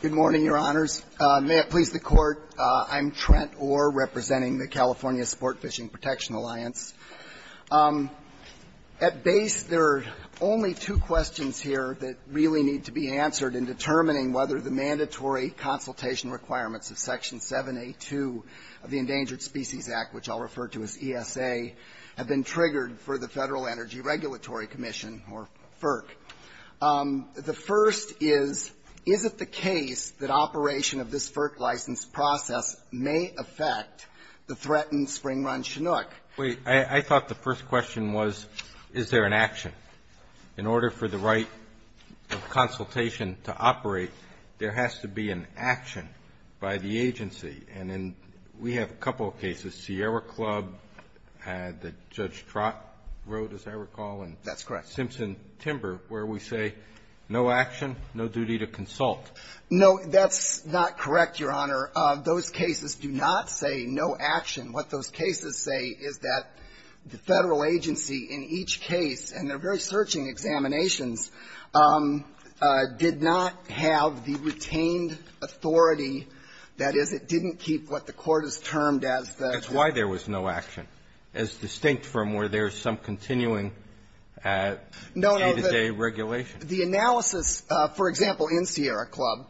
Good morning, Your Honors. May it please the Court, I'm Trent Orr representing the California Sportfishing Protection Alliance. At base, there are only two questions here that really need to be answered in determining whether the mandatory consultation requirements of Section 782 of the Endangered Species Act, which I'll refer to as ESA, have been triggered for the Federal Energy Regulatory Commission, or FERC. The first is, is it the case that operation of this FERC license process may affect the threatened spring-run Chinook? I thought the first question was, is there an action? In order for the right of consultation to operate, there has to be an action by the agency. And in we have a couple of cases, Sierra Club, the Judge Trott Road, as I recall, and Simpson Timber, where we say no action, no duty to consult. No, that's not correct, Your Honor. Those cases do not say no action. What those cases say is that the Federal agency in each case, and they're very searching examinations, did not have the retained authority, that is, it didn't keep what the Court has termed as the ---- That's why there was no action, as distinct from where there's some continuing day-to-day regulation. The analysis, for example, in Sierra Club,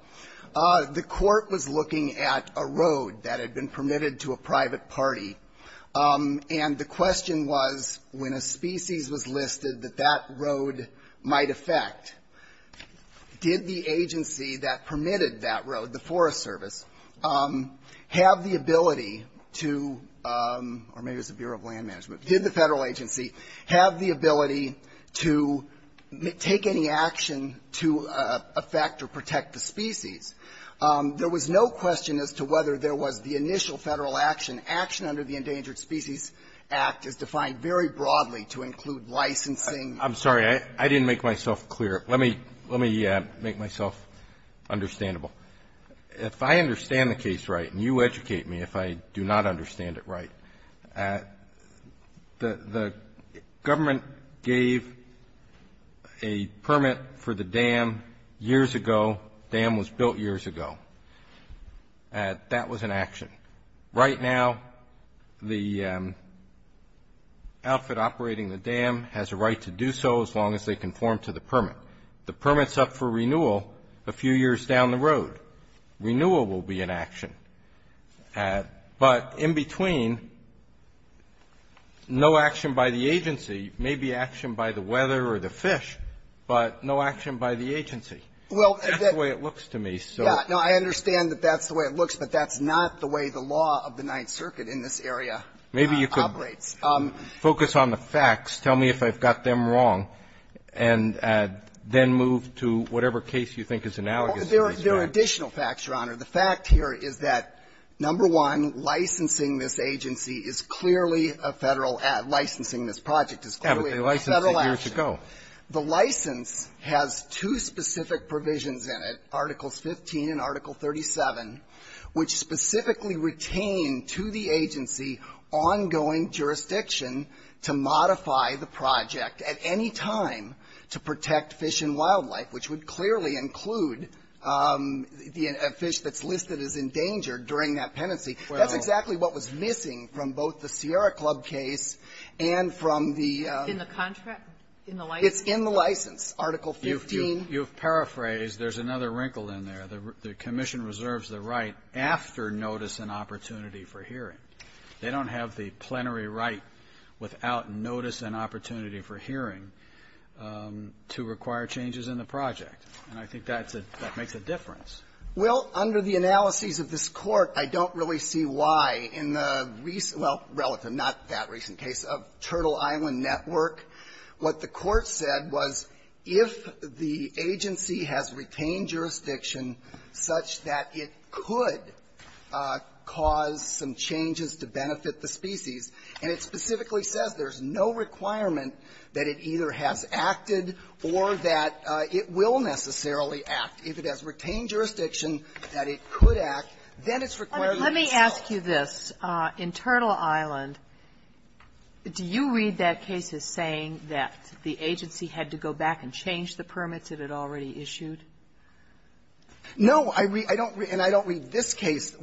the Court was looking at a road that had been permitted to a private party, and the question was, when a species was listed, that that road might affect, did the agency that permitted that road, the Forest Service, have the ability to or maybe it was the Bureau of Land Management, did the Federal agency have the ability to take any action to affect or protect the species? There was no question as to whether there was the initial Federal action. Action under the Endangered Species Act is defined very broadly to include licensing. I'm sorry. I didn't make myself clear. Let me make myself understandable. If I understand the case right, and you educate me if I do not understand it right, the government gave a permit for the dam years ago, dam was built years ago. That was an action. Right now, the outfit operating the dam has a right to do so as long as they conform to the permit. The permit's up for renewal a few years down the road. Renewal will be an action. But in between, no action by the agency, maybe action by the weather or the fish, but no action by the agency. That's the way it looks to me. Yeah. No, I understand that that's the way it looks, but that's not the way the law of the Ninth Circuit in this area operates. Maybe you could focus on the facts. Tell me if I've got them wrong, and then move to whatever case you think is analogous to these facts. There are additional facts, Your Honor. The fact here is that, number one, licensing this agency is clearly a Federal ad, licensing this project is clearly a Federal action. Yeah, but they licensed it years ago. The license has two specific provisions in it, Articles 15 and Article 37, which specifically retain to the agency ongoing jurisdiction to modify the project at any time to protect fish and wildlife, which would clearly include a fish that's listed as endangered during that penalty. That's exactly what was missing from both the Sierra Club case and from the ---- It's in the license, Article 15. You've paraphrased. There's another wrinkle in there. The Commission reserves the right after notice and opportunity for hearing. They don't have the plenary right without notice and opportunity for hearing to require changes in the project. And I think that's a ---- that makes a difference. Well, under the analyses of this Court, I don't really see why in the recent ---- well, relative, not that recent case of Turtle Island Network. What the Court said was if the agency has retained jurisdiction such that it could cause some changes to benefit the species, and it specifically says there's no requirement that it either has acted or that it will necessarily act. If it has retained jurisdiction that it could act, then it's required to do so. Let me ask you this. In Turtle Island, do you read that case as saying that the agency had to go back and change the permits that it already issued? No. I don't read this case.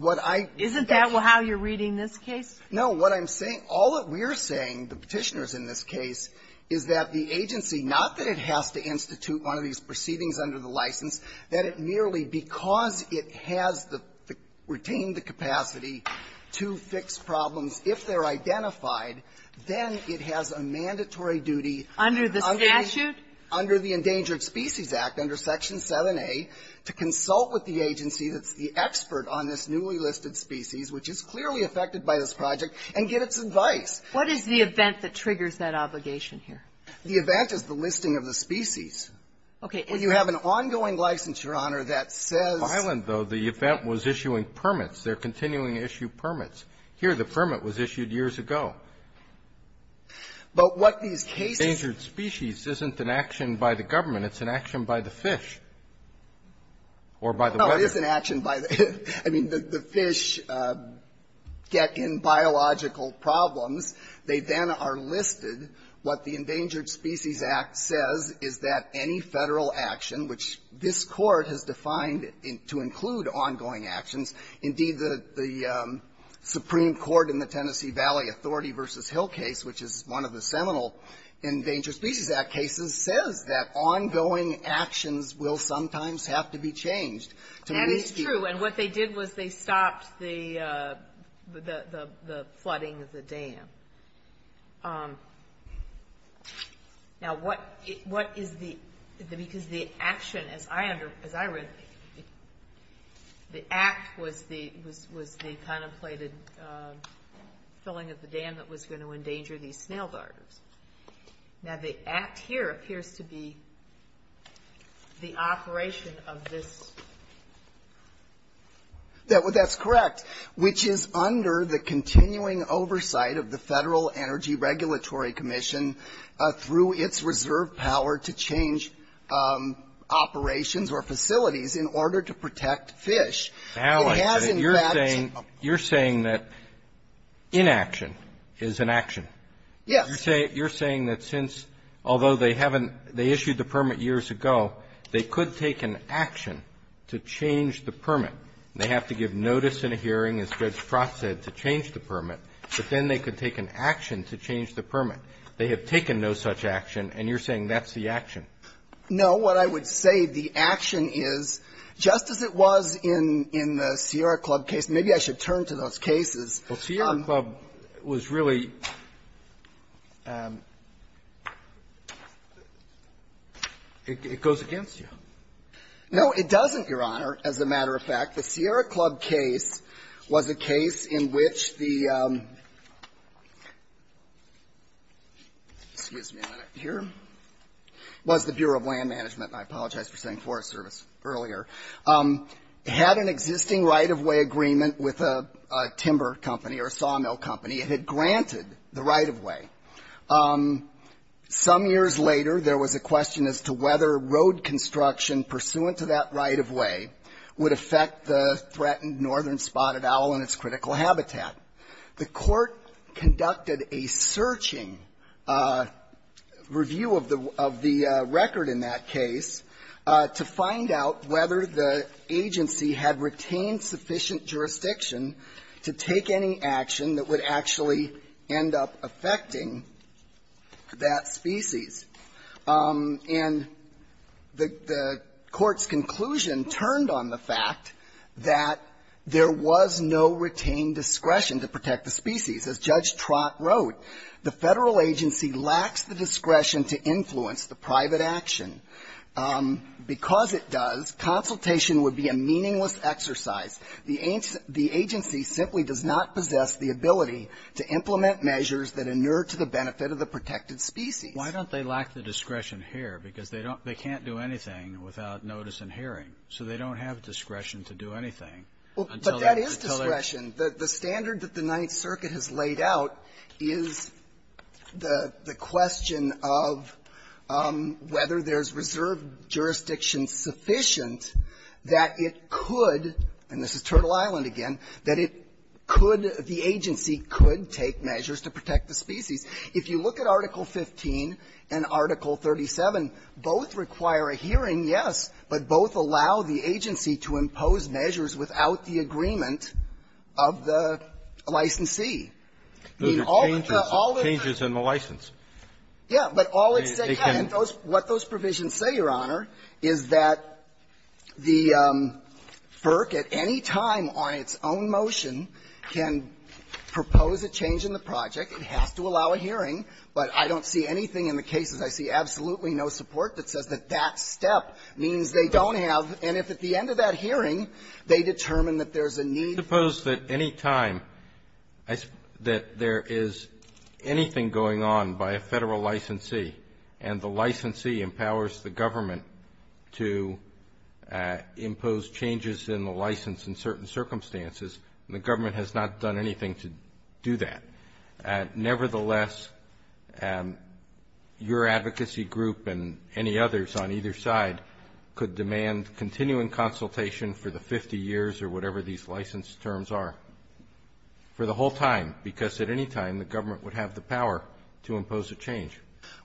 Isn't that how you're reading this case? No. What I'm saying, all that we're saying, the Petitioners in this case, is that the agency, not that it has to institute one of these proceedings under the license, that it merely because it has the ---- retained the capacity to fix problems if they're identified, then it has a mandatory duty under the ---- Under the statute? Under the Endangered Species Act, under Section 7a, to consult with the agency that's the expert on this newly listed species, which is clearly affected by this project, and get its advice. What is the event that triggers that obligation here? The event is the listing of the species. Okay. Well, you have an ongoing license, Your Honor, that says ---- On my island, though, the event was issuing permits. They're continuing to issue permits. Here, the permit was issued years ago. But what these cases ---- Endangered species isn't an action by the government. It's an action by the fish or by the weather. No. It is an action by the ---- I mean, the fish get in biological problems. They then are listed. What the Endangered Species Act says is that any Federal action, which this Court has defined to include ongoing actions, indeed, the Supreme Court in the Tennessee Valley Authority v. Hill case, which is one of the seminal Endangered Species Act cases, says that ongoing actions will sometimes have to be changed. That is true. And what they did was they stopped the ---- the flooding of the dam. Now, what is the ---- because the action, as I under ---- as I read, the act was the contemplated filling of the dam that was going to endanger these snail darters. Now, the act here appears to be the operation of this ---- That's correct. ---- which is under the continuing oversight of the Federal Energy Regulatory Commission through its reserve power to change operations or facilities in order to protect fish. It has, in fact ---- Now, you're saying that inaction is an action. Yes. You're saying that since, although they haven't ---- they issued the permit years ago, they could take an action to change the permit. They have to give notice in a hearing, as Judge Pratt said, to change the permit, but then they could take an action to change the permit. They have taken no such action, and you're saying that's the action. No. What I would say, the action is, just as it was in the Sierra Club case. Maybe I should turn to those cases. Well, Sierra Club was really ---- it goes against you. No, it doesn't, Your Honor. As a matter of fact, the Sierra Club case was a case in which the ---- excuse me a minute here ---- was the Bureau of Land Management. I apologize for saying Forest Service earlier. It had an existing right-of-way agreement with a timber company or a sawmill company. It had granted the right-of-way. Some years later, there was a question as to whether road construction pursuant to that right-of-way would affect the threatened northern spotted owl in its critical habitat. The Court conducted a searching review of the record in that case to find out whether the agency had retained sufficient jurisdiction to take any action that would actually end up affecting that species. And the Court's conclusion turned on the fact that there was no retained discretion to protect the species. As Judge Trott wrote, the Federal agency lacks the discretion to influence the private action. Because it does, consultation would be a meaningless exercise. The agency simply does not possess the ability to implement measures that inure to the benefit of the protected species. Why don't they lack the discretion here? Because they don't ---- they can't do anything without notice and hearing. So they don't have discretion to do anything until they ---- Well, but that is discretion. The standard that the Ninth Circuit has laid out is the question of whether there's reserved jurisdiction sufficient that it could, and this is Turtle Island again, that it could ---- the agency could take measures to protect the species. If you look at Article 15 and Article 37, both require a hearing, yes, but both allow the agency to impose measures without the agreement of the licensee. I mean, all the ---- Those are changes. All the changes in the license. Yeah. But all it's saying ---- They can ---- And those ---- what those provisions say, Your Honor, is that the FERC at any time on its own motion can propose a change in the project. It has to allow a hearing, but I don't see anything in the cases. I see absolutely no support that says that that step means they don't have. And if at the end of that hearing, they determine that there's a need ---- I suppose that any time that there is anything going on by a Federal licensee and the licensee empowers the government to impose changes in the license in certain circumstances, that nevertheless, your advocacy group and any others on either side could demand continuing consultation for the 50 years or whatever these license terms are for the whole time, because at any time, the government would have the power to impose a change.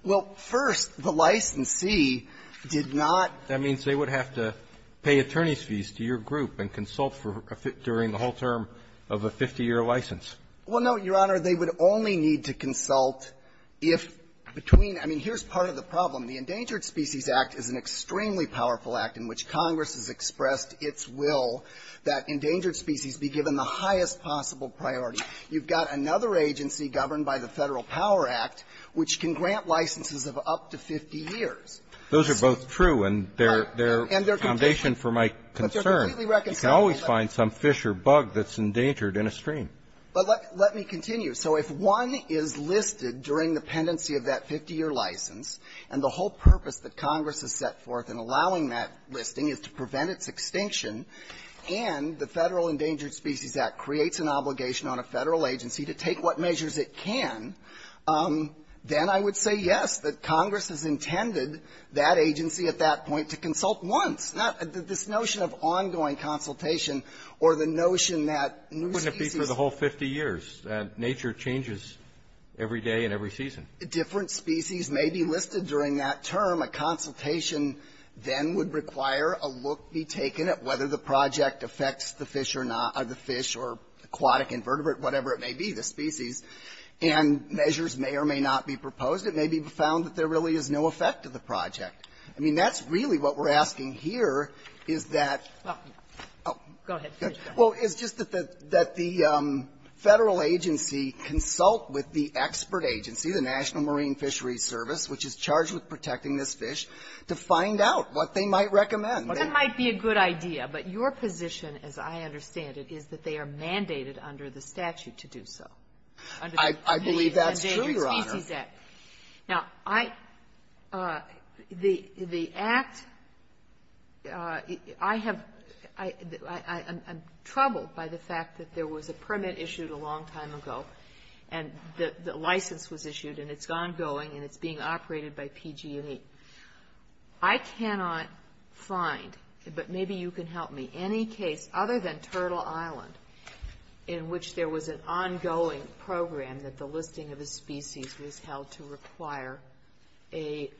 Well, first, the licensee did not ---- That means they would have to pay attorney's fees to your group and consult for a ---- during the whole term of a 50-year license. Well, no, Your Honor. They would only need to consult if between ---- I mean, here's part of the problem. The Endangered Species Act is an extremely powerful act in which Congress has expressed its will that endangered species be given the highest possible priority. You've got another agency governed by the Federal Power Act which can grant licenses of up to 50 years. Those are both true, and they're ---- And they're completely -------- their foundation for my concern. But they're completely reconciled. You can always find some fish or bug that's endangered in a stream. But let me continue. So if one is listed during the pendency of that 50-year license, and the whole purpose that Congress has set forth in allowing that listing is to prevent its extinction, and the Federal Endangered Species Act creates an obligation on a Federal agency to take what measures it can, then I would say, yes, that Congress has intended that agency at that point to consult once. This notion of ongoing consultation or the notion that new species ---- But that's for the whole 50 years. Nature changes every day and every season. Different species may be listed during that term. A consultation then would require a look be taken at whether the project affects the fish or not or the fish or aquatic invertebrate, whatever it may be, the species. And measures may or may not be proposed. It may be found that there really is no effect to the project. I mean, that's really what we're asking here, is that ---- Well, go ahead. Well, it's just that the Federal agency consult with the expert agency, the National Marine Fisheries Service, which is charged with protecting this fish, to find out what they might recommend. That might be a good idea, but your position, as I understand it, is that they are mandated under the statute to do so. I believe that's true, Your Honor. Now, I ---- the act ---- I have ---- I'm troubled by the fact that there was a permit issued a long time ago, and the license was issued, and it's ongoing, and it's being operated by PG&E. I cannot find, but maybe you can help me, any case other than Turtle Island in which there was an ongoing program that the listing of a species was held to require an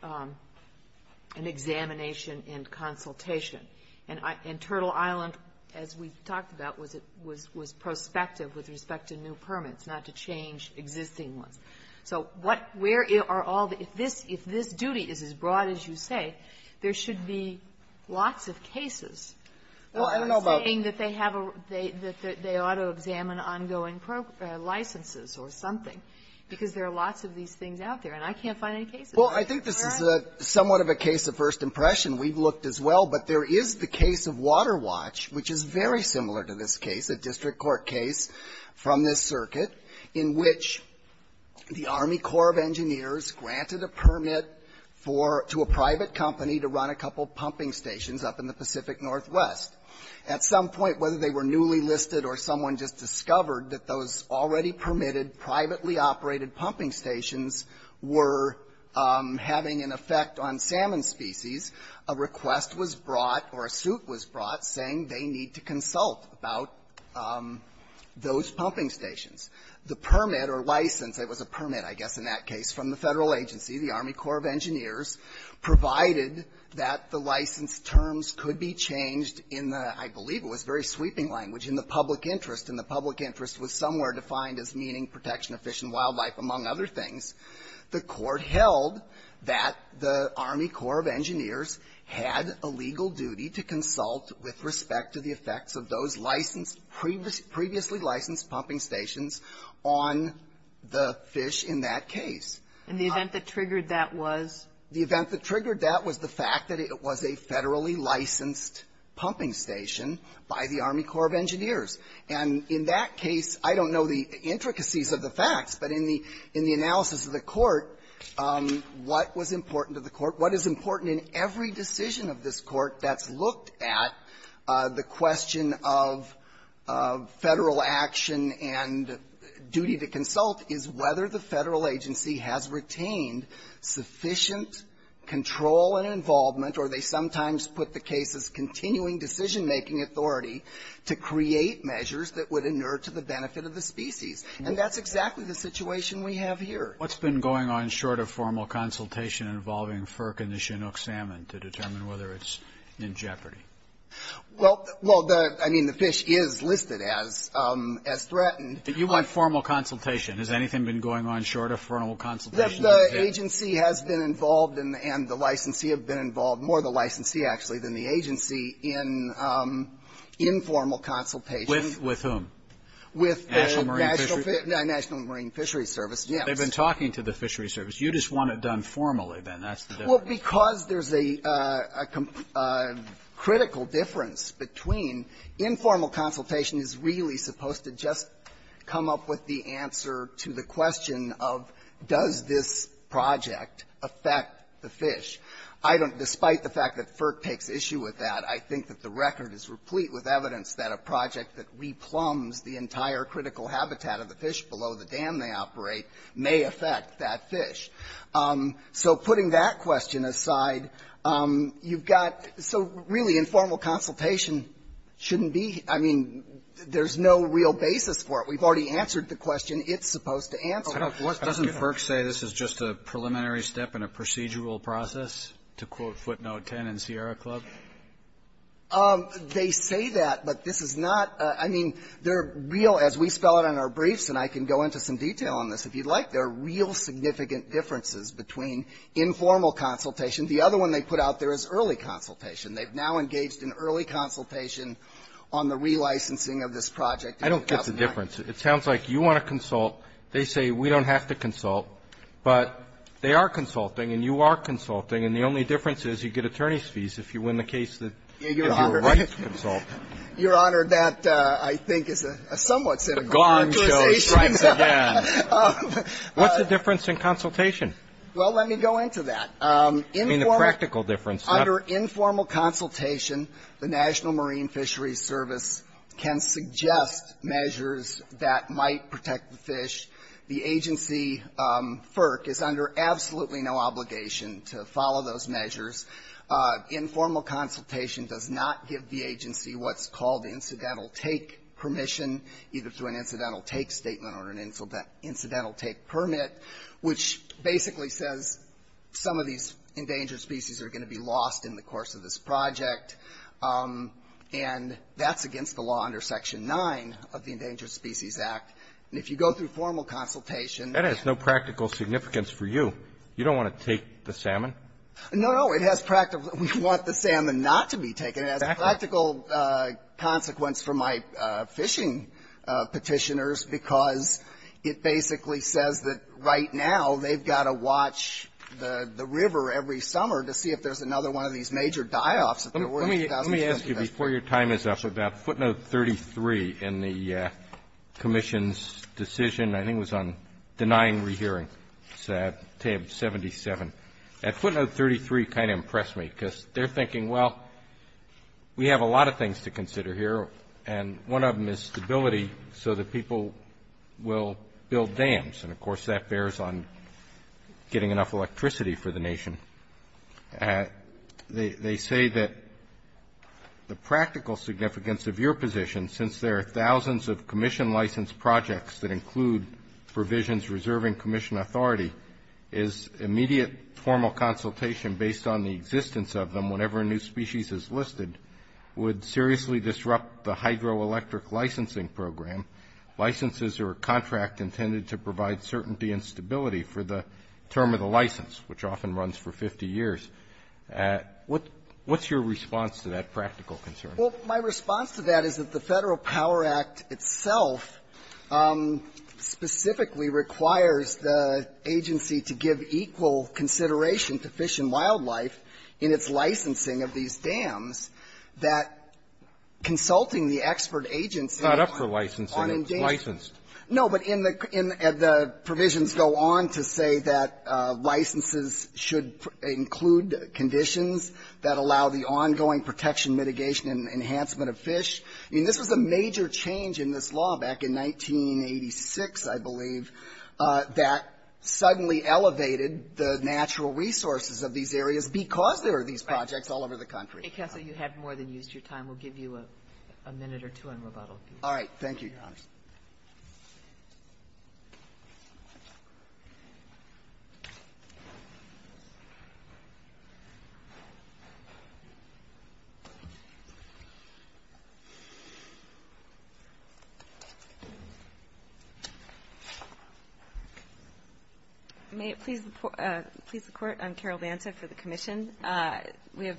examination and consultation. And Turtle Island, as we talked about, was prospective with respect to new permits, not to change existing ones. So what ---- where are all the ---- if this duty is as broad as you say, there should be lots of cases saying that they have a ---- that they ought to examine ongoing licenses or something, because there are lots of these things out there, and I can't find any cases. Well, I think this is somewhat of a case of first impression. We've looked as well, but there is the case of Water Watch, which is very similar to this case, a district court case from this circuit, in which the Army Corps of Engineers granted a permit for ---- to a private company to run a couple of pumping stations up in the Pacific Northwest. At some point, whether they were newly listed or someone just discovered that those already permitted, privately operated pumping stations were having an effect on salmon species, a request was brought or a suit was brought saying they need to consult about those pumping stations. The permit or license ---- it was a permit, I guess, in that case, from the Federal agency, the Army Corps of Engineers, provided that the license terms could be changed in the ---- I believe it was very sweeping language, in the public interest, and the public interest was somewhere defined as meaning protection of fish and wildlife, among other things. The court held that the Army Corps of Engineers had a legal duty to consult with respect to the effects of those licensed ---- previously licensed pumping stations on the fish in that case. And the event that triggered that was? The event that triggered that was the fact that it was a federally licensed pumping station by the Army Corps of Engineers. And in that case, I don't know the intricacies of the facts, but in the analysis of the court, what was important to the court, what is important in every decision of this court that's looked at, the question of Federal action and duty to consult is whether the Federal government control and involvement, or they sometimes put the case as continuing decision-making authority, to create measures that would inert to the benefit of the species. And that's exactly the situation we have here. What's been going on short of formal consultation involving FERC and the Chinook salmon to determine whether it's in jeopardy? Well, the ---- I mean, the fish is listed as threatened. You want formal consultation. Has anything been going on short of formal consultation? The agency has been involved, and the licensee has been involved, more the licensee, actually, than the agency, in informal consultation. With whom? With the National Marine Fishery Service. They've been talking to the Fishery Service. You just want it done formally, then. That's the difference. Well, because there's a critical difference between informal consultation is really supposed to just come up with the answer to the question of does this project affect the fish. I don't ---- despite the fact that FERC takes issue with that, I think that the record is replete with evidence that a project that re-plumbs the entire critical habitat of the fish below the dam they operate may affect that fish. So putting that question aside, you've got ---- so, really, informal consultation shouldn't be ---- I mean, there's no real basis for it. We've already answered the question. It's supposed to answer it. Doesn't FERC say this is just a preliminary step in a procedural process, to quote footnote 10 in Sierra Club? They say that, but this is not ---- I mean, they're real. As we spell it on our briefs, and I can go into some detail on this if you'd like, there are real significant differences between informal consultation. The other one they put out there is early consultation. They've now engaged in early consultation on the relicensing of this project in 2009. I don't get the difference. It sounds like you want to consult. They say we don't have to consult, but they are consulting, and you are consulting. And the only difference is, you get attorney's fees if you win the case that you're right to consult. Your Honor, that, I think, is a somewhat cynical characterization. The Gong Show strikes again. What's the difference in consultation? Well, let me go into that. I mean, the practical difference. Under informal consultation, the National Marine Fisheries Service can suggest measures that might protect the fish. The agency, FERC, is under absolutely no obligation to follow those measures. Informal consultation does not give the agency what's called incidental take permission, either through an incidental take statement or an incidental take permit, which basically says some of these endangered species are going to be lost in the course of this project. And that's against the law under Section 9 of the Endangered Species Act. And if you go through formal consultation... That has no practical significance for you. You don't want to take the salmon? No, no. It has practical... We want the salmon not to be taken. It has a practical consequence for my fishing petitioners because it basically says that right now they've got to watch the river every summer to see if there's another one of these major die-offs, if there were in 2015. Let me ask you, before your time is up, about footnote 33 in the commission's decision, I think it was on denying rehearing, tab 77. That footnote 33 kind of impressed me because they're thinking, well, we have a lot of things to consider here, and one of them is stability so that people will build dams, and, of course, that bears on getting enough electricity for the nation. They say that the practical significance of your position, since there are thousands of commission-licensed projects that include provisions reserving commission authority, is immediate formal consultation based on the existence of them whenever a new species is listed would seriously disrupt the hydroelectric licensing program, licenses or a contract intended to provide certainty and stability for the term of the license, which often runs for 50 years. What's your response to that practical concern? Well, my response to that is that the Federal Power Act itself specifically requires the agency to give equal consideration to Fish and Wildlife in its licensing of these dams, that consulting the expert agency on the issue of the dams would ensure licensing of license. No, but in the provisions go on to say that licenses should include conditions that allow the ongoing protection, mitigation, and enhancement of fish. I mean, this was a major change in this law back in 1986, I believe, that suddenly elevated the natural resources of these areas because there are these projects all over the country. Kagan, you have more than used your time. We'll give you a minute or two on rebuttal. All right. Thank you, Your Honor. May it please the Court, I'm Carol Banta for the Commission. We have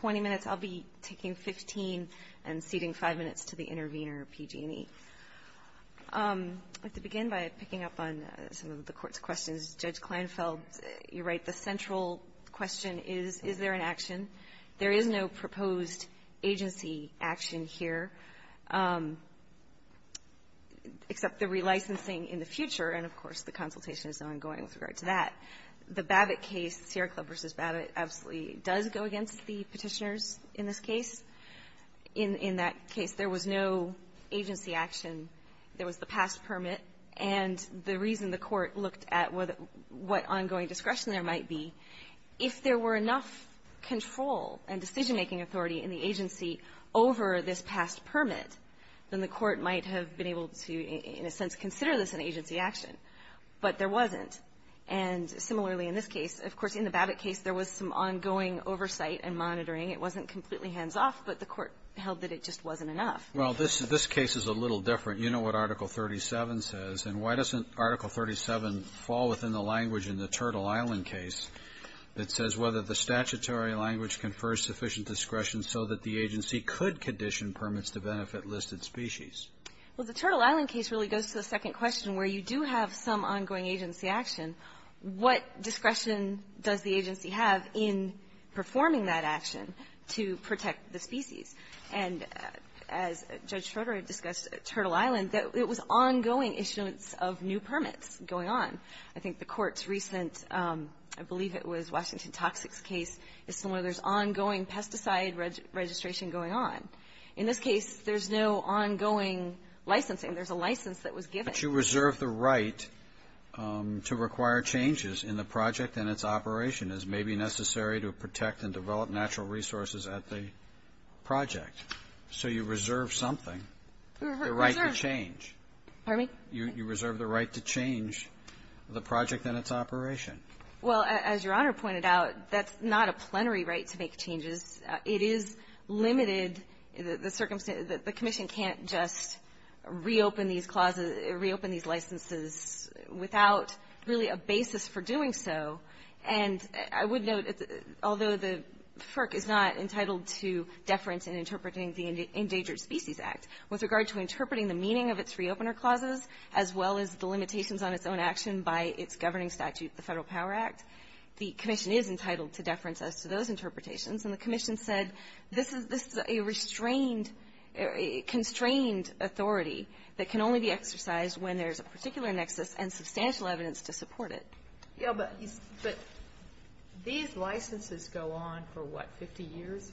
20 minutes. I'll be taking 15 and ceding 5 minutes to the intervener, PG&E. I'd like to begin by picking up on some of the Court's questions. Judge Kleinfeld, you're right, the central question is, is there an action? There is no proposed agency action here except the relicensing in the future, and of course, the consultation is ongoing with regard to that. The Babbitt case, Sierra Club v. Babbitt, absolutely does go against the Petitioners. In this case, in that case, there was no agency action. There was the past permit, and the reason the Court looked at what ongoing discretion there might be, if there were enough control and decision-making authority in the agency over this past permit, then the Court might have been able to, in a sense, consider this an agency action, but there wasn't. And similarly, in this case, of course, in the Babbitt case, there was some ongoing oversight and monitoring. It wasn't completely hands-off, but the Court held that it just wasn't enough. Well, this case is a little different. You know what Article 37 says, and why doesn't Article 37 fall within the language in the Turtle Island case that says whether the statutory language confers sufficient discretion so that the agency could condition permits to benefit listed species? Well, the Turtle Island case really goes to the second question, where you do have some ongoing agency action. What discretion does the agency have in performing that action to protect the species? And as Judge Schroeder discussed, Turtle Island, it was ongoing issuance of new permits going on. I think the Court's recent, I believe it was Washington Toxics case, is similar. There's ongoing pesticide registration going on. In this case, there's no ongoing licensing. There's a license that was given. But you reserve the right to require changes in the project and its operation as may be necessary to protect and develop natural resources at the project. So you reserve something, the right to change. Pardon me? You reserve the right to change the project and its operation. Well, as Your Honor pointed out, that's not a plenary right to make changes. It is limited. The commission can't just reopen these licenses without really a basis for doing so. And I would note, although the FERC is not entitled to deference in interpreting the Endangered Species Act, with regard to interpreting the meaning of its re-opener clauses, as well as the limitations on its own action by its governing statute, the Federal Power Act, the commission is entitled to deference as to those interpretations. And the commission said this is a restrained, constrained authority that can only be exercised when there's a particular nexus and substantial evidence to support it. Yeah, but these licenses go on for, what, 50 years?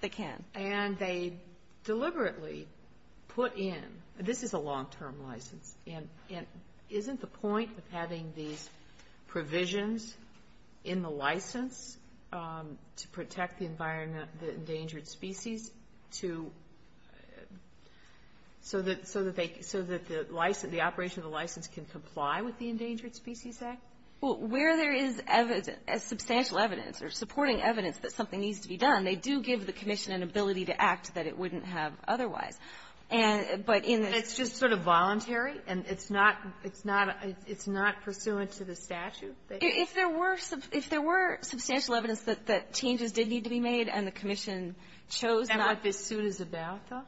They can. And they deliberately put in this is a long-term license. And isn't the point of having these provisions in the license to protect the environment, the endangered species, to so that the license, the operation of the license can comply with the Endangered Species Act? Well, where there is substantial evidence or supporting evidence that something needs to be done, they do give the commission an ability to act that it wouldn't have otherwise. And but in the ---- And it's just sort of voluntary, and it's not, it's not, it's not pursuant to the statute? If there were, if there were substantial evidence that changes did need to be made and the commission chose not to ---- Is that what this suit is about, though?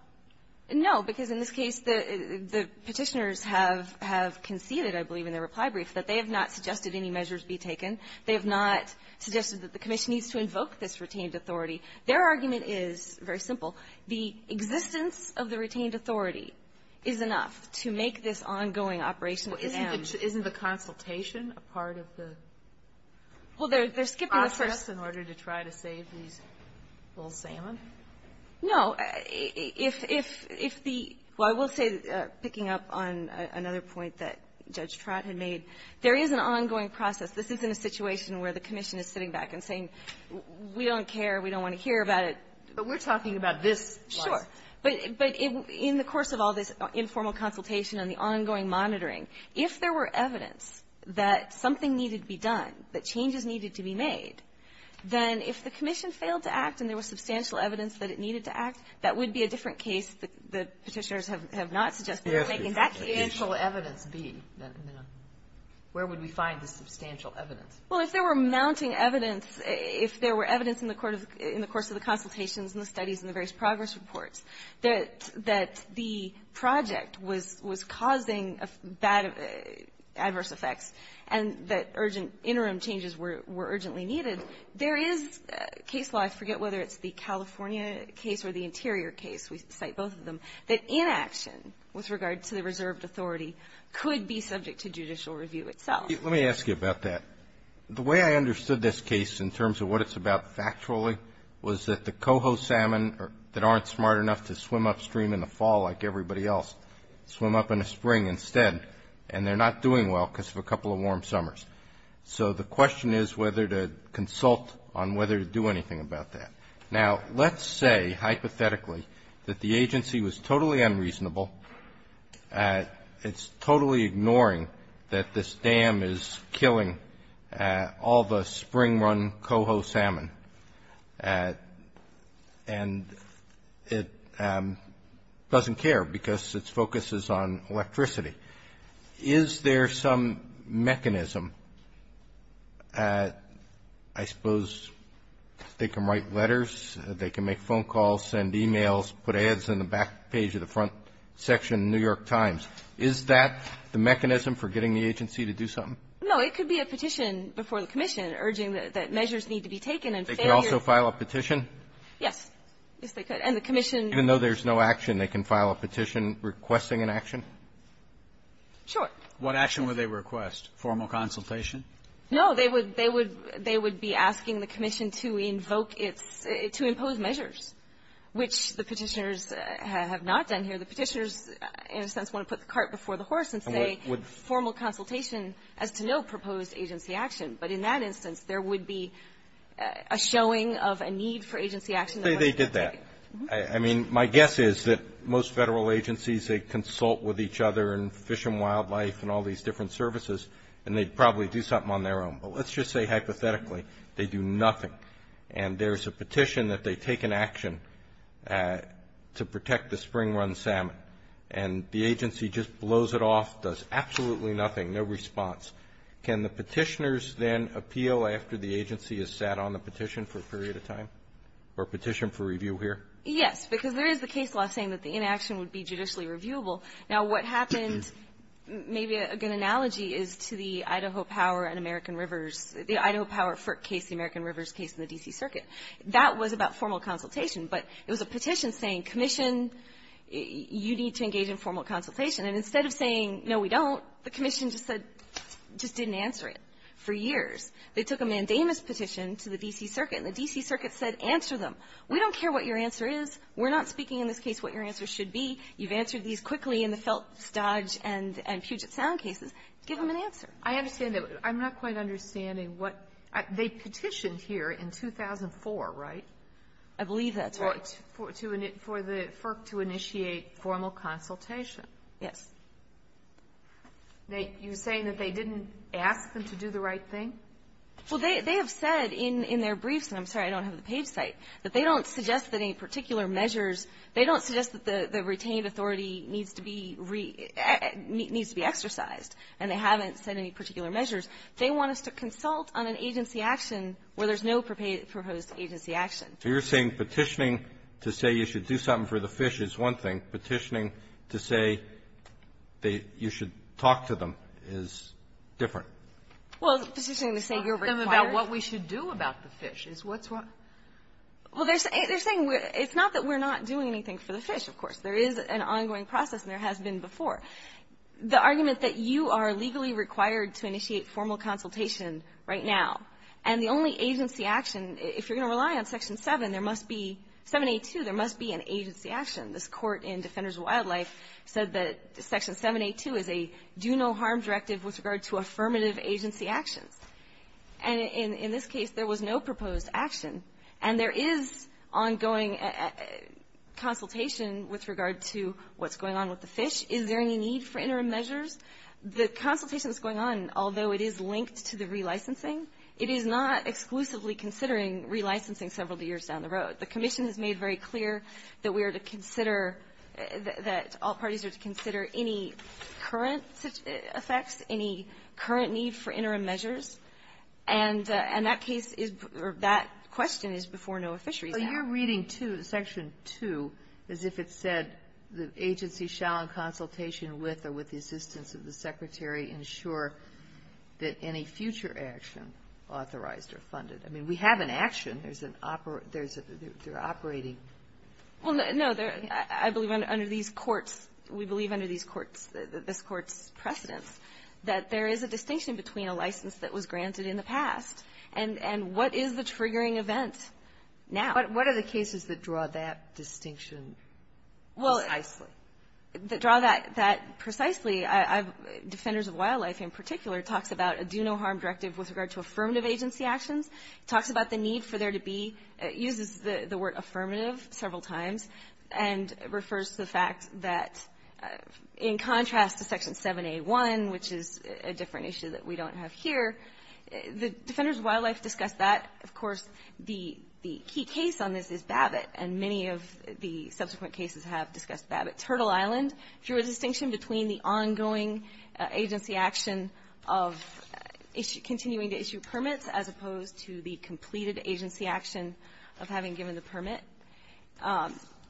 No. Because in this case, the Petitioners have conceded, I believe, in their reply brief, that they have not suggested any measures be taken. They have not suggested that the commission needs to invoke this retained authority. Their argument is very simple. The existence of the retained authority is enough to make this ongoing operation of the dam. Isn't the consultation a part of the process in order to try to save these little salmon? No. If the ---- well, I will say, picking up on another point that Judge Trott had made, there is an ongoing process. This isn't a situation where the commission is sitting back and saying, we don't care, we don't want to hear about it. But we're talking about this. Sure. But in the course of all this informal consultation and the ongoing monitoring, if there were evidence that something needed to be done, that changes needed to be made, then if the commission failed to act and there was substantial evidence that it needed to act, that would be a different case that the Petitioners have not suggested taking that case. Substantial evidence, where would we find the substantial evidence? Well, if there were mounting evidence, if there were evidence in the court of the ---- in the course of the consultations and the studies and the various progress reports that the project was causing adverse effects and that urgent interim changes were urgently needed, there is case law, I forget whether it's the California case or the Interior case, we cite both of them, that inaction with regard to the reserved authority could be subject to judicial review itself. Let me ask you about that. The way I understood this case in terms of what it's about factually was that the coho salmon that aren't smart enough to swim upstream in the fall like everybody else swim up in the spring instead, and they're not doing well because of a couple of warm summers. So the question is whether to consult on whether to do anything about that. Now, let's say hypothetically that the agency was totally unreasonable, it's killing all the spring-run coho salmon, and it doesn't care because its focus is on electricity. Is there some mechanism? I suppose they can write letters, they can make phone calls, send e-mails, put ads in the back page of the front section of the New York Times. Is that the mechanism for getting the agency to do something? No. It could be a petition before the commission urging that measures need to be taken and failure. They could also file a petition? Yes. Yes, they could. And the commission can. Even though there's no action, they can file a petition requesting an action? Sure. What action would they request? Formal consultation? No. They would be asking the commission to invoke its to impose measures, which the Petitioners have not done here. The Petitioners, in a sense, want to put the cart before the horse and say formal consultation as to no proposed agency action. But in that instance, there would be a showing of a need for agency action. Say they did that. I mean, my guess is that most Federal agencies, they consult with each other in Fish and Wildlife and all these different services, and they'd probably do something on their own. But let's just say hypothetically they do nothing, and there's a petition that they take an action to protect the spring-run salmon, and the agency just blows it off, does absolutely nothing, no response. Can the Petitioners then appeal after the agency has sat on the petition for a period of time or petition for review here? Yes, because there is the case law saying that the inaction would be judicially reviewable. Now, what happened, maybe a good analogy is to the Idaho Power and American Rivers, the Idaho Power case, the American Rivers case in the D.C. Circuit. That was about formal consultation. But it was a petition saying, commission, you need to engage in formal consultation. And instead of saying, no, we don't, the commission just said, just didn't answer it for years. They took a mandamus petition to the D.C. Circuit, and the D.C. Circuit said, answer them. We don't care what your answer is. We're not speaking in this case what your answer should be. You've answered these quickly in the Felt, Stodge, and Puget Sound cases. Give them an answer. I understand that. I'm not quite understanding what they petitioned here in 2004, right? I believe that's right. For the FERC to initiate formal consultation. Yes. You're saying that they didn't ask them to do the right thing? Well, they have said in their briefs, and I'm sorry, I don't have the page site, that they don't suggest that any particular measures, they don't suggest that the they want us to consult on an agency action where there's no proposed agency action. So you're saying petitioning to say you should do something for the fish is one thing. Petitioning to say that you should talk to them is different? Well, petitioning to say you're required to do something for the fish is what's what? Well, they're saying it's not that we're not doing anything for the fish, of course. There is an ongoing process, and there has been before. The argument that you are legally required to initiate formal consultation right now, and the only agency action, if you're going to rely on Section 7, there must be, 7A2, there must be an agency action. This court in Defenders of Wildlife said that Section 7A2 is a do-no-harm directive with regard to affirmative agency actions. And in this case, there was no proposed action. And there is ongoing consultation with regard to what's going on with the fish. Is there any need for interim measures? The consultation that's going on, although it is linked to the relicensing, it is not exclusively considering relicensing several years down the road. The Commission has made very clear that we are to consider, that all parties are to consider any current effects, any current need for interim measures. And that case is, or that question is before NOAA Fisheries now. What you're reading to, Section 2, is if it said the agency shall in consultation with or with the assistance of the Secretary ensure that any future action authorized or funded. I mean, we have an action. There's an, there's a, they're operating. Well, no, there, I believe under these courts, we believe under these courts, this court's precedence, that there is a distinction between a license that was granted in the past and, and what is the triggering event now? What are the cases that draw that distinction precisely? Well, that draw that, that precisely, Defenders of Wildlife in particular talks about a do-no-harm directive with regard to affirmative agency actions. It talks about the need for there to be, it uses the word affirmative several times, and refers to the fact that in contrast to Section 7A1, which is a different issue that we don't have here, the Defenders of Wildlife discuss that. Of course, the, the key case on this is Babbitt, and many of the subsequent cases have discussed Babbitt. Turtle Island, through a distinction between the ongoing agency action of issue, continuing to issue permits, as opposed to the completed agency action of having given the permit,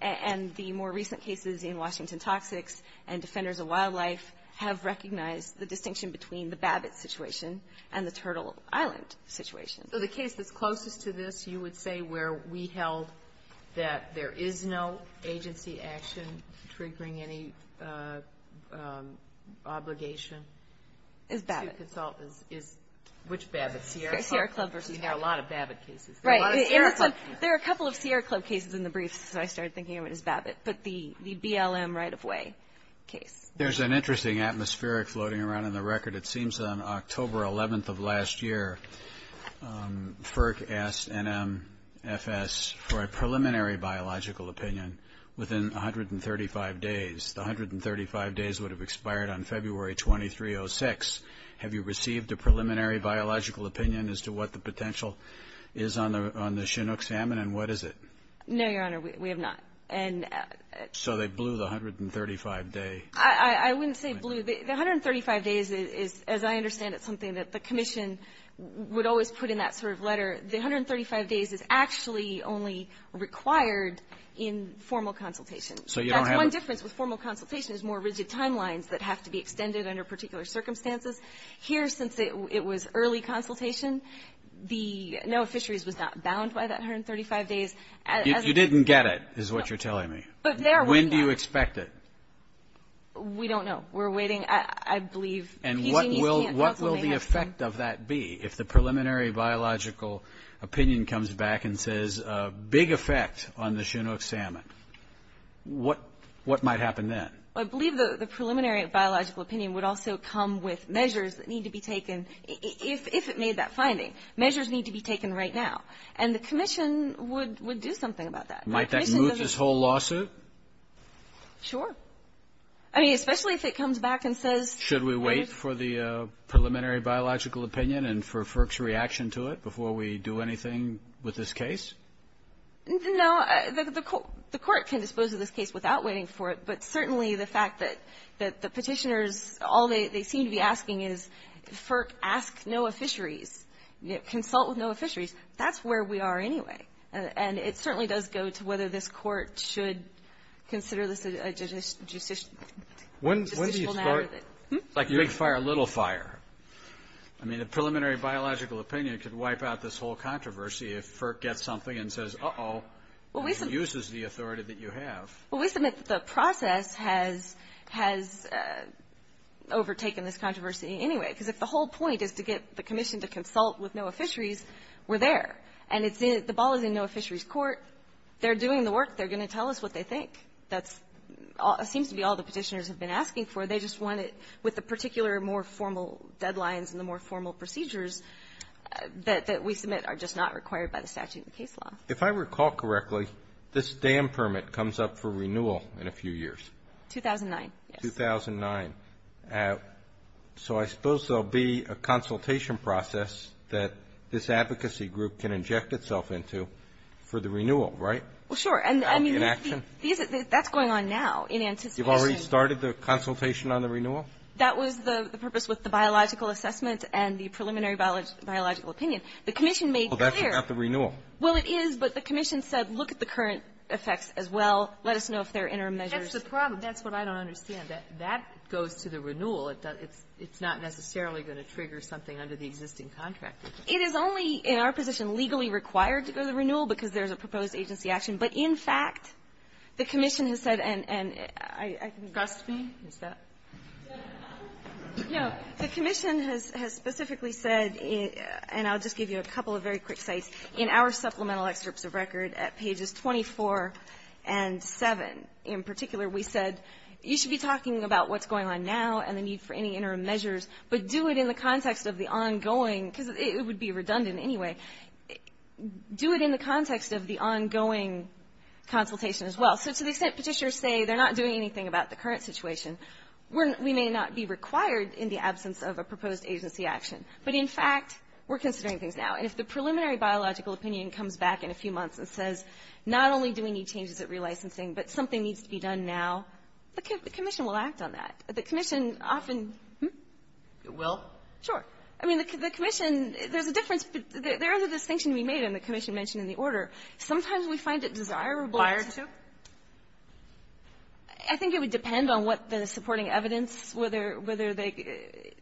and the more recent cases in Washington Toxics and Defenders of Wildlife have recognized the distinction between the Babbitt situation and the Turtle Island situation. So the case that's closest to this, you would say, where we held that there is no agency action triggering any obligation to consult is, is which Babbitt? Sierra Club versus Babbitt. There are a lot of Babbitt cases. Right. There are a couple of Sierra Club cases in the briefs, so I started thinking of it as Babbitt, but the, the BLM right-of-way case. There's an interesting atmospheric floating around in the record. It seems on October 11th of last year, FERC asked NMFS for a preliminary biological opinion within 135 days. The 135 days would have expired on February 23, 06. Have you received a preliminary biological opinion as to what the potential is on the, on the Chinook salmon, and what is it? No, Your Honor, we, we have not. And. So they blew the 135 day. I, I wouldn't say blew. The, the 135 days is, as I understand it, something that the commission would always put in that sort of letter. The 135 days is actually only required in formal consultation. So you don't have. That's one difference with formal consultation is more rigid timelines that have to be extended under particular circumstances. Here, since it, it was early consultation, the, NOAA Fisheries was not bound by that 135 days as. You didn't get it, is what you're telling me. But there. When do you expect it? We don't know. We're waiting. I, I believe. And what will, what will the effect of that be? If the preliminary biological opinion comes back and says a big effect on the Chinook salmon, what, what might happen then? I believe the, the preliminary biological opinion would also come with measures that need to be taken if, if it made that finding. Measures need to be taken right now. And the commission would, would do something about that. Might that move this whole lawsuit? Sure. I mean, especially if it comes back and says. Should we wait for the preliminary biological opinion and for FERC's reaction to it before we do anything with this case? No, the, the court, the court can dispose of this case without waiting for it. But certainly the fact that, that the Petitioners, all they, they seem to be asking is FERC ask NOAA Fisheries, consult with NOAA Fisheries. That's where we are anyway. And it certainly does go to whether this court should consider this a, a judici, judicial matter that. When, when do you start. Like big fire, little fire. I mean, the preliminary biological opinion could wipe out this whole controversy if FERC gets something and says, uh-oh. Well, we. Uses the authority that you have. Well, we submit that the process has, has overtaken this controversy anyway. Because if the whole point is to get the commission to consult with NOAA Fisheries, we're there. And it's in, the ball is in NOAA Fisheries' court. They're doing the work. They're going to tell us what they think. That's all, it seems to be all the Petitioners have been asking for. They just want it with the particular more formal deadlines and the more formal procedures that, that we submit are just not required by the statute of the case law. If I recall correctly, this dam permit comes up for renewal in a few years. 2009, yes. 2009. Uh, so I suppose there'll be a consultation process that this advocacy group can inject itself into for the renewal, right? Well, sure. And I mean, that's going on now in anticipation. You've already started the consultation on the renewal? That was the, the purpose with the biological assessment and the preliminary biological opinion. The commission made clear. Well, that's about the renewal. Well, it is. But the commission said, look at the current effects as well. Let us know if there are interim measures. That's the problem. That's what I don't understand. That goes to the renewal. It's not necessarily going to trigger something under the existing contract. It is only, in our position, legally required to go to renewal because there's a proposed agency action. But, in fact, the commission has said, and I can go on. Trust me. Is that? No. The commission has specifically said, and I'll just give you a couple of very quick sites, in our supplemental excerpts of record at pages 24 and 7, in particular, we said, you should be talking about what's going on now and the need for any interim measures, but do it in the context of the ongoing, because it would be redundant anyway, do it in the context of the ongoing consultation as well. So to the extent petitiors say they're not doing anything about the current situation, we may not be required in the absence of a proposed agency action. But, in fact, we're considering things now. And if the preliminary biological opinion comes back in a few months and says, not only do we need changes at relicensing, but something needs to be done now, the commission will act on that. The commission often --- It will? Sure. I mean, the commission, there's a difference. There is a distinction to be made in the commission mentioned in the order. Sometimes we find it desirable to --- Prior to? I think it would depend on what the supporting evidence, whether they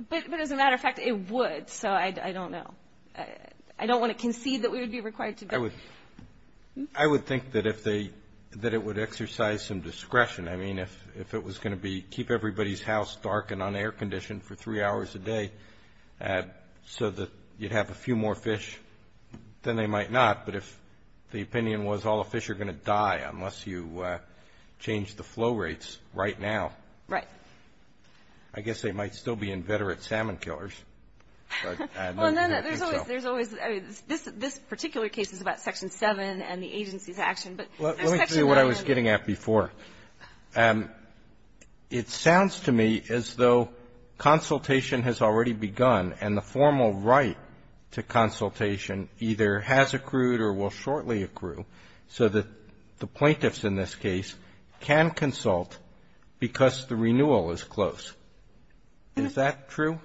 --- but, as a matter of fact, it would. So I don't know. I don't want to concede that we would be required to go. I would think that if they -- that it would exercise some discretion. I mean, if it was going to be keep everybody's house dark and on air condition for three hours a day so that you'd have a few more fish, then they might not. But if the opinion was all the fish are going to die unless you change the flow rates right now. Right. I guess they might still be inveterate salmon killers. But I don't think so. And then there's always, there's always, I mean, this particular case is about Section 7 and the agency's action. But there's Section 9- Let me tell you what I was getting at before. It sounds to me as though consultation has already begun and the formal right to consultation either has accrued or will shortly accrue so that the plaintiffs in this case can consult because the renewal is close. Is that true?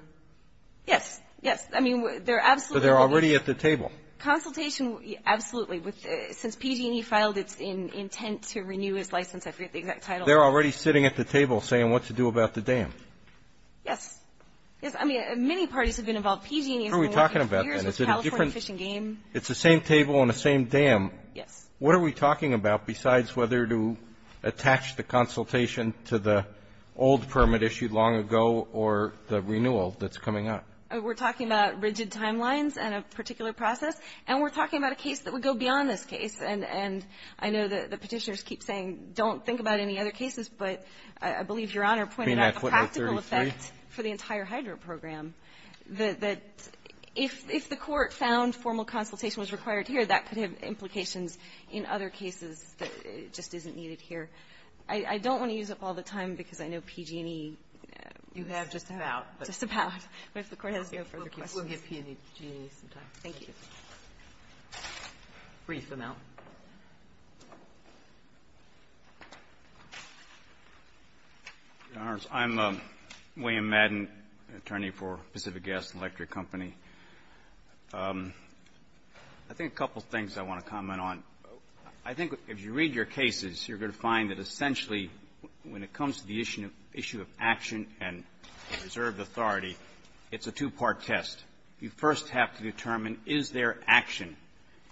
Yes. Yes. I mean, they're absolutely- But they're already at the table. Consultation, absolutely. Since PG&E filed its intent to renew its license, I forget the exact title. They're already sitting at the table saying what to do about the dam. Yes. Yes. I mean, many parties have been involved. PG&E has been working for years with California Fish and Game. It's the same table on the same dam. Yes. What are we talking about besides whether to attach the consultation to the old permit issued long ago or the renewal that's coming up? We're talking about rigid timelines and a particular process. And we're talking about a case that would go beyond this case. And I know the Petitioners keep saying don't think about any other cases, but I believe Your Honor pointed out the practical effect for the entire HIDRO program, that if the Court found formal consultation was required here, that could have implications in other cases that it just isn't needed here. I don't want to use up all the time because I know PG&E is just about, but if the Court has no further questions, we'll give PG&E some time. Thank you. Brief them out. Your Honors, I'm William Madden, attorney for Pacific Gas and Electric Company. I think a couple of things I want to comment on. I think if you read your cases, you're going to find that essentially when it comes to the issue of action and reserved authority, it's a two-part test. You first have to determine, is there action?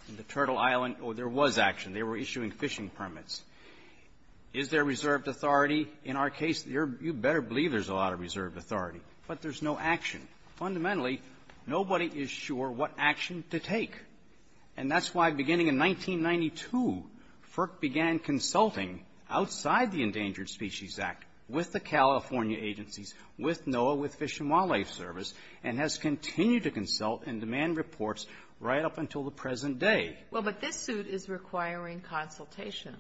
In the Turtle Island, there was action. They were issuing fishing permits. Is there reserved authority? In our case, you better believe there's a lot of reserved authority. But there's no action. Fundamentally, nobody is sure what action to take. And that's why, beginning in 1992, FERC began consulting outside the Endangered Species Act with the California agencies, with NOAA, with Fish and Wildlife Service, and has continued to consult and demand reports right up until the present day. Well, but this suit is requiring consultation,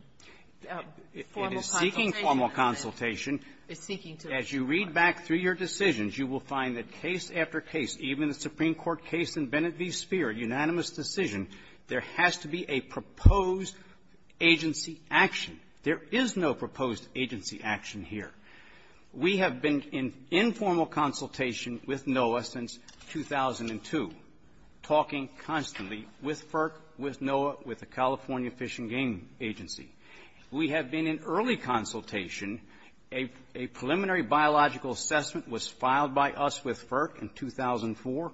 formal consultation. It is seeking formal consultation. It's seeking to ensure. As you read back through your decisions, you will find that case after case, even the Supreme Court case in Bennett v. Speer, unanimous decision, there has to be a proposed agency action. There is no proposed agency action here. We have been in informal consultation with NOAA since 2002, talking constantly with FERC, with NOAA, with the California Fish and Game Agency. We have been in early consultation. A preliminary biological assessment was filed by us with FERC in 2004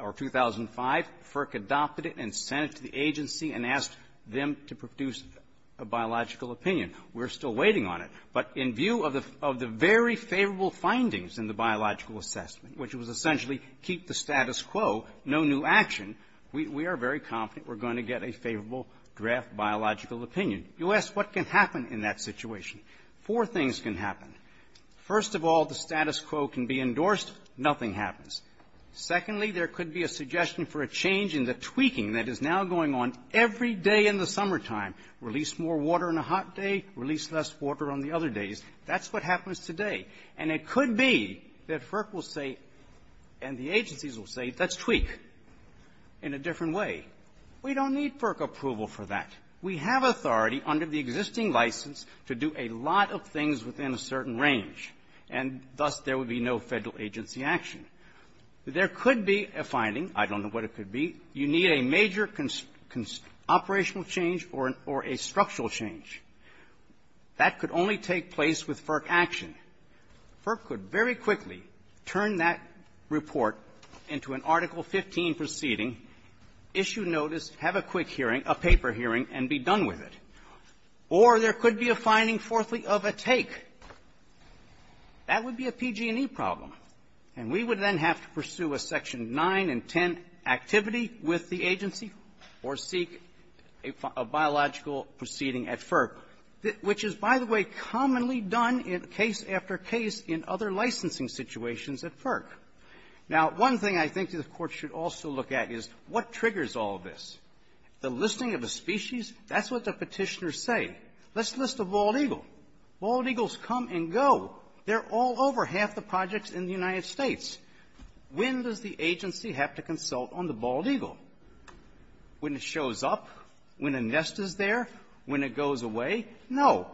or 2005. FERC adopted it and sent it to the agency and asked them to produce a biological opinion. We're still waiting on it. But in view of the very favorable findings in the biological assessment, which was essentially keep the status quo, no new action, we are very confident we're going to get a favorable draft biological opinion. You ask what can happen in that situation. Four things can happen. First of all, the status quo can be endorsed. Nothing happens. Secondly, there could be a suggestion for a change in the tweaking that is now going on every day in the summertime. Release more water on a hot day, release less water on the other days. That's what happens today. And it could be that FERC will say and the agencies will say, let's tweak in a different way. We don't need FERC approval for that. We have authority under the existing license to do a lot of things within a certain range, and thus there would be no Federal agency action. There could be a finding. I don't know what it could be. You need a major operational change or a structural change. That could only take place with FERC action. FERC could very quickly turn that report into an Article 15 proceeding, issue notice, have a quick hearing, a paper hearing, and be done with it. Or there could be a finding, fourthly, of a take. That would be a PG&E problem. And we would then have to pursue a Section 9 and 10 activity with the agency or seek a biological proceeding at FERC, which is, by the way, commonly done in case after case in other licensing situations at FERC. Now, one thing I think the Court should also look at is what triggers all this. The listing of a species, that's what the When does the agency have to consult on the bald eagle? When it shows up? When a nest is there? When it goes away? No.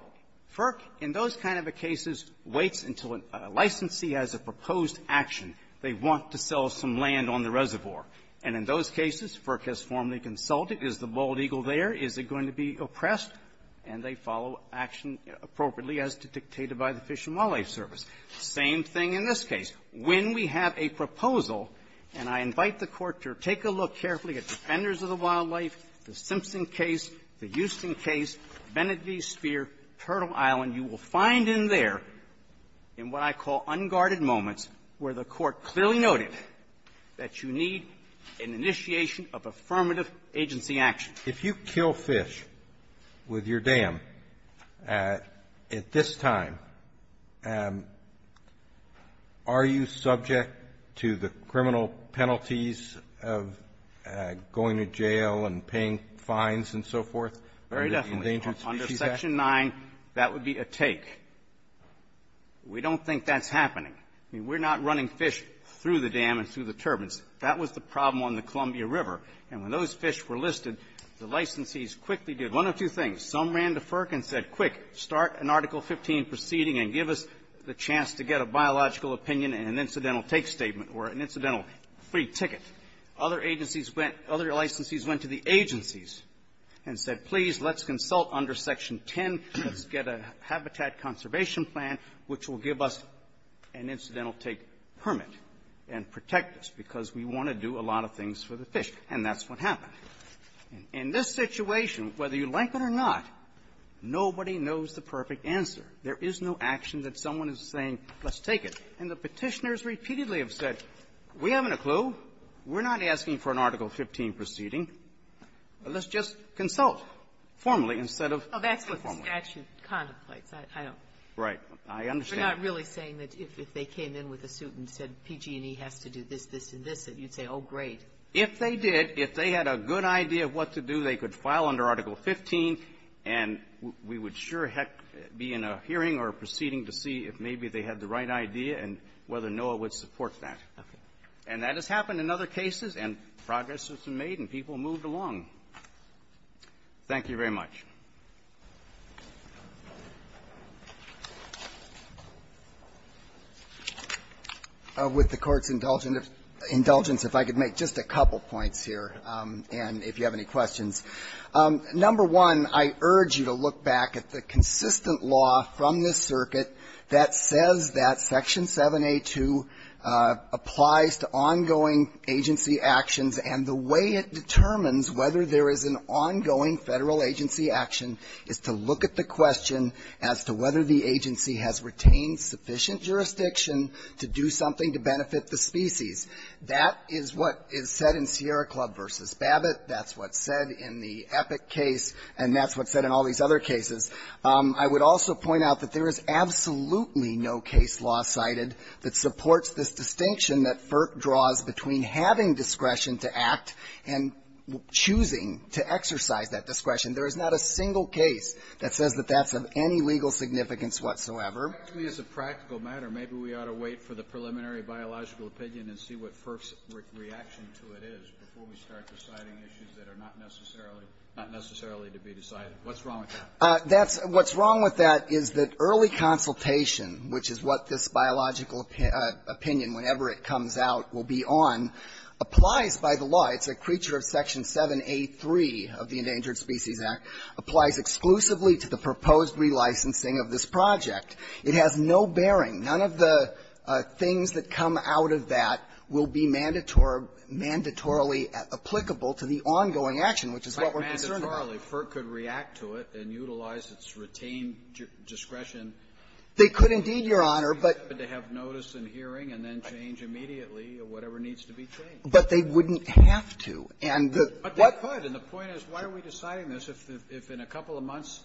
FERC, in those kind of a cases, waits until a licensee has a proposed action. They want to sell some land on the reservoir. And in those cases, FERC has formally consulted. Is the bald eagle there? Is it going to be oppressed? And they follow action appropriately as dictated by the Fish and Wildlife Service. Same thing in this case. When we have a proposal, and I invite the Court to take a look carefully at Defenders of the Wildlife, the Simpson case, the Houston case, Benedictine Sphere, Turtle Island, you will find in there, in what I call unguarded moments, where the Court clearly noted that you need an initiation of affirmative agency action. If you kill fish with your dam at this time, are you subject to the criminal penalties of going to jail and paying fines and so forth? Very definitely. Under Section 9, that would be a take. We don't think that's happening. I mean, we're not running fish through the dam and through the turbines. That was the problem on the Columbia River. And when those fish were listed, the licensees quickly did one of two things. Some ran to FERC and said, quick, start an Article 15 proceeding and give us the chance to get a biological opinion and an incidental take statement or an incidental free ticket. Other agencies went to the agencies and said, please, let's consult under Section 10, let's get a habitat conservation plan which will give us an incidental take permit and protect us. Because we want to do a lot of things for the fish. And that's what happened. And in this situation, whether you like it or not, nobody knows the perfect answer. There is no action that someone is saying, let's take it. And the Petitioners repeatedly have said, we haven't a clue. We're not asking for an Article 15 proceeding. Let's just consult formally instead of informally. Oh, that's what the statute contemplates. I don't know. Right. I understand. You're not really saying that if they came in with a suit and said PG&E has to do this, this, and this, that you'd say, oh, great. If they did, if they had a good idea of what to do, they could file under Article 15, and we would sure heck be in a hearing or a proceeding to see if maybe they had the right idea and whether NOAA would support that. And that has happened in other cases, and progress has been made, and people moved along. Thank you very much. With the Court's indulgence, if I could make just a couple points here, and if you have any questions. Number one, I urge you to look back at the consistent law from this circuit that says that Section 7a.2 applies to ongoing agency actions, and the way it determines whether there is an ongoing Federal agency action or not is to look at the question as to whether the agency has retained sufficient jurisdiction to do something to benefit the species. That is what is said in Sierra Club v. Babbitt. That's what's said in the Epic case, and that's what's said in all these other cases. I would also point out that there is absolutely no case law cited that supports this distinction that FERC draws between having discretion to act and choosing to exercise that discretion. There is not a single case that says that that's of any legal significance whatsoever. Actually, as a practical matter, maybe we ought to wait for the preliminary biological opinion and see what FERC's reaction to it is before we start deciding issues that are not necessarily to be decided. What's wrong with that? That's what's wrong with that is that early consultation, which is what this biological opinion, whenever it comes out, will be on, applies by the law. It's a creature of Section 7A3 of the Endangered Species Act. Applies exclusively to the proposed relicensing of this project. It has no bearing. None of the things that come out of that will be mandatory or mandatorily applicable to the ongoing action, which is what we're concerned about. Mandatorily, FERC could react to it and utilize its retained discretion. They could indeed, Your Honor, but they have notice and hearing and then change immediately whatever needs to be changed. But they wouldn't have to. And what the question is, why are we deciding this if in a couple of months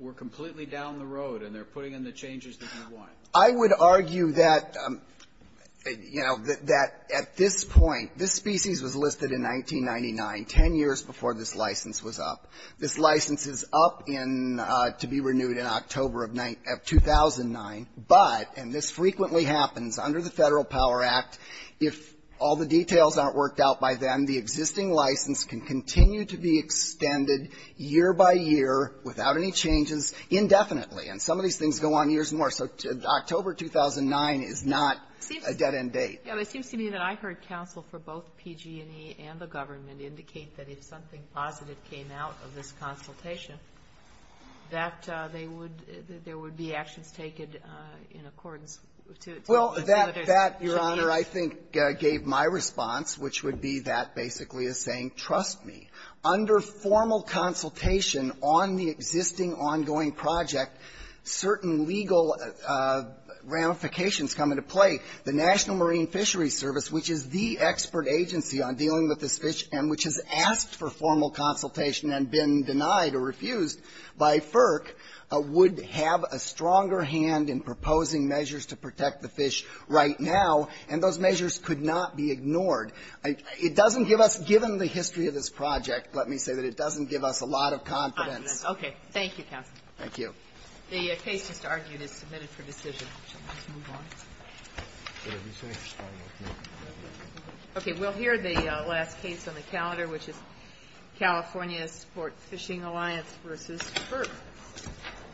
we're completely down the road and they're putting in the changes that we want? I would argue that, you know, that at this point, this species was listed in 1999, 10 years before this license was up. This license is up in to be renewed in October of 2009. But, and this frequently happens under the Federal Power Act, if all the details aren't worked out by then, the existing license can continue to be extended year by year without any changes indefinitely. And some of these things go on years more. So October 2009 is not a dead-end date. It seems to me that I heard counsel for both PG&E and the government indicate that if something positive came out of this consultation, that they would be actions taken in accordance to it. Well, that, Your Honor, I think gave my response, which would be that basically is saying, trust me. Under formal consultation on the existing ongoing project, certain legal ramifications come into play. The National Marine Fisheries Service, which is the expert agency on dealing with this fish and which has asked for formal consultation and been denied or refused by FERC, would have a stronger hand in proposing measures to protect the fish right now. And those measures could not be ignored. It doesn't give us, given the history of this project, let me say that it doesn't give us a lot of confidence. Okay. Thank you, counsel. Thank you. The case just argued is submitted for decision. Shall we just move on? Okay. We'll hear the last case on the calendar, which is California Sport Fishing Alliance v. FERC.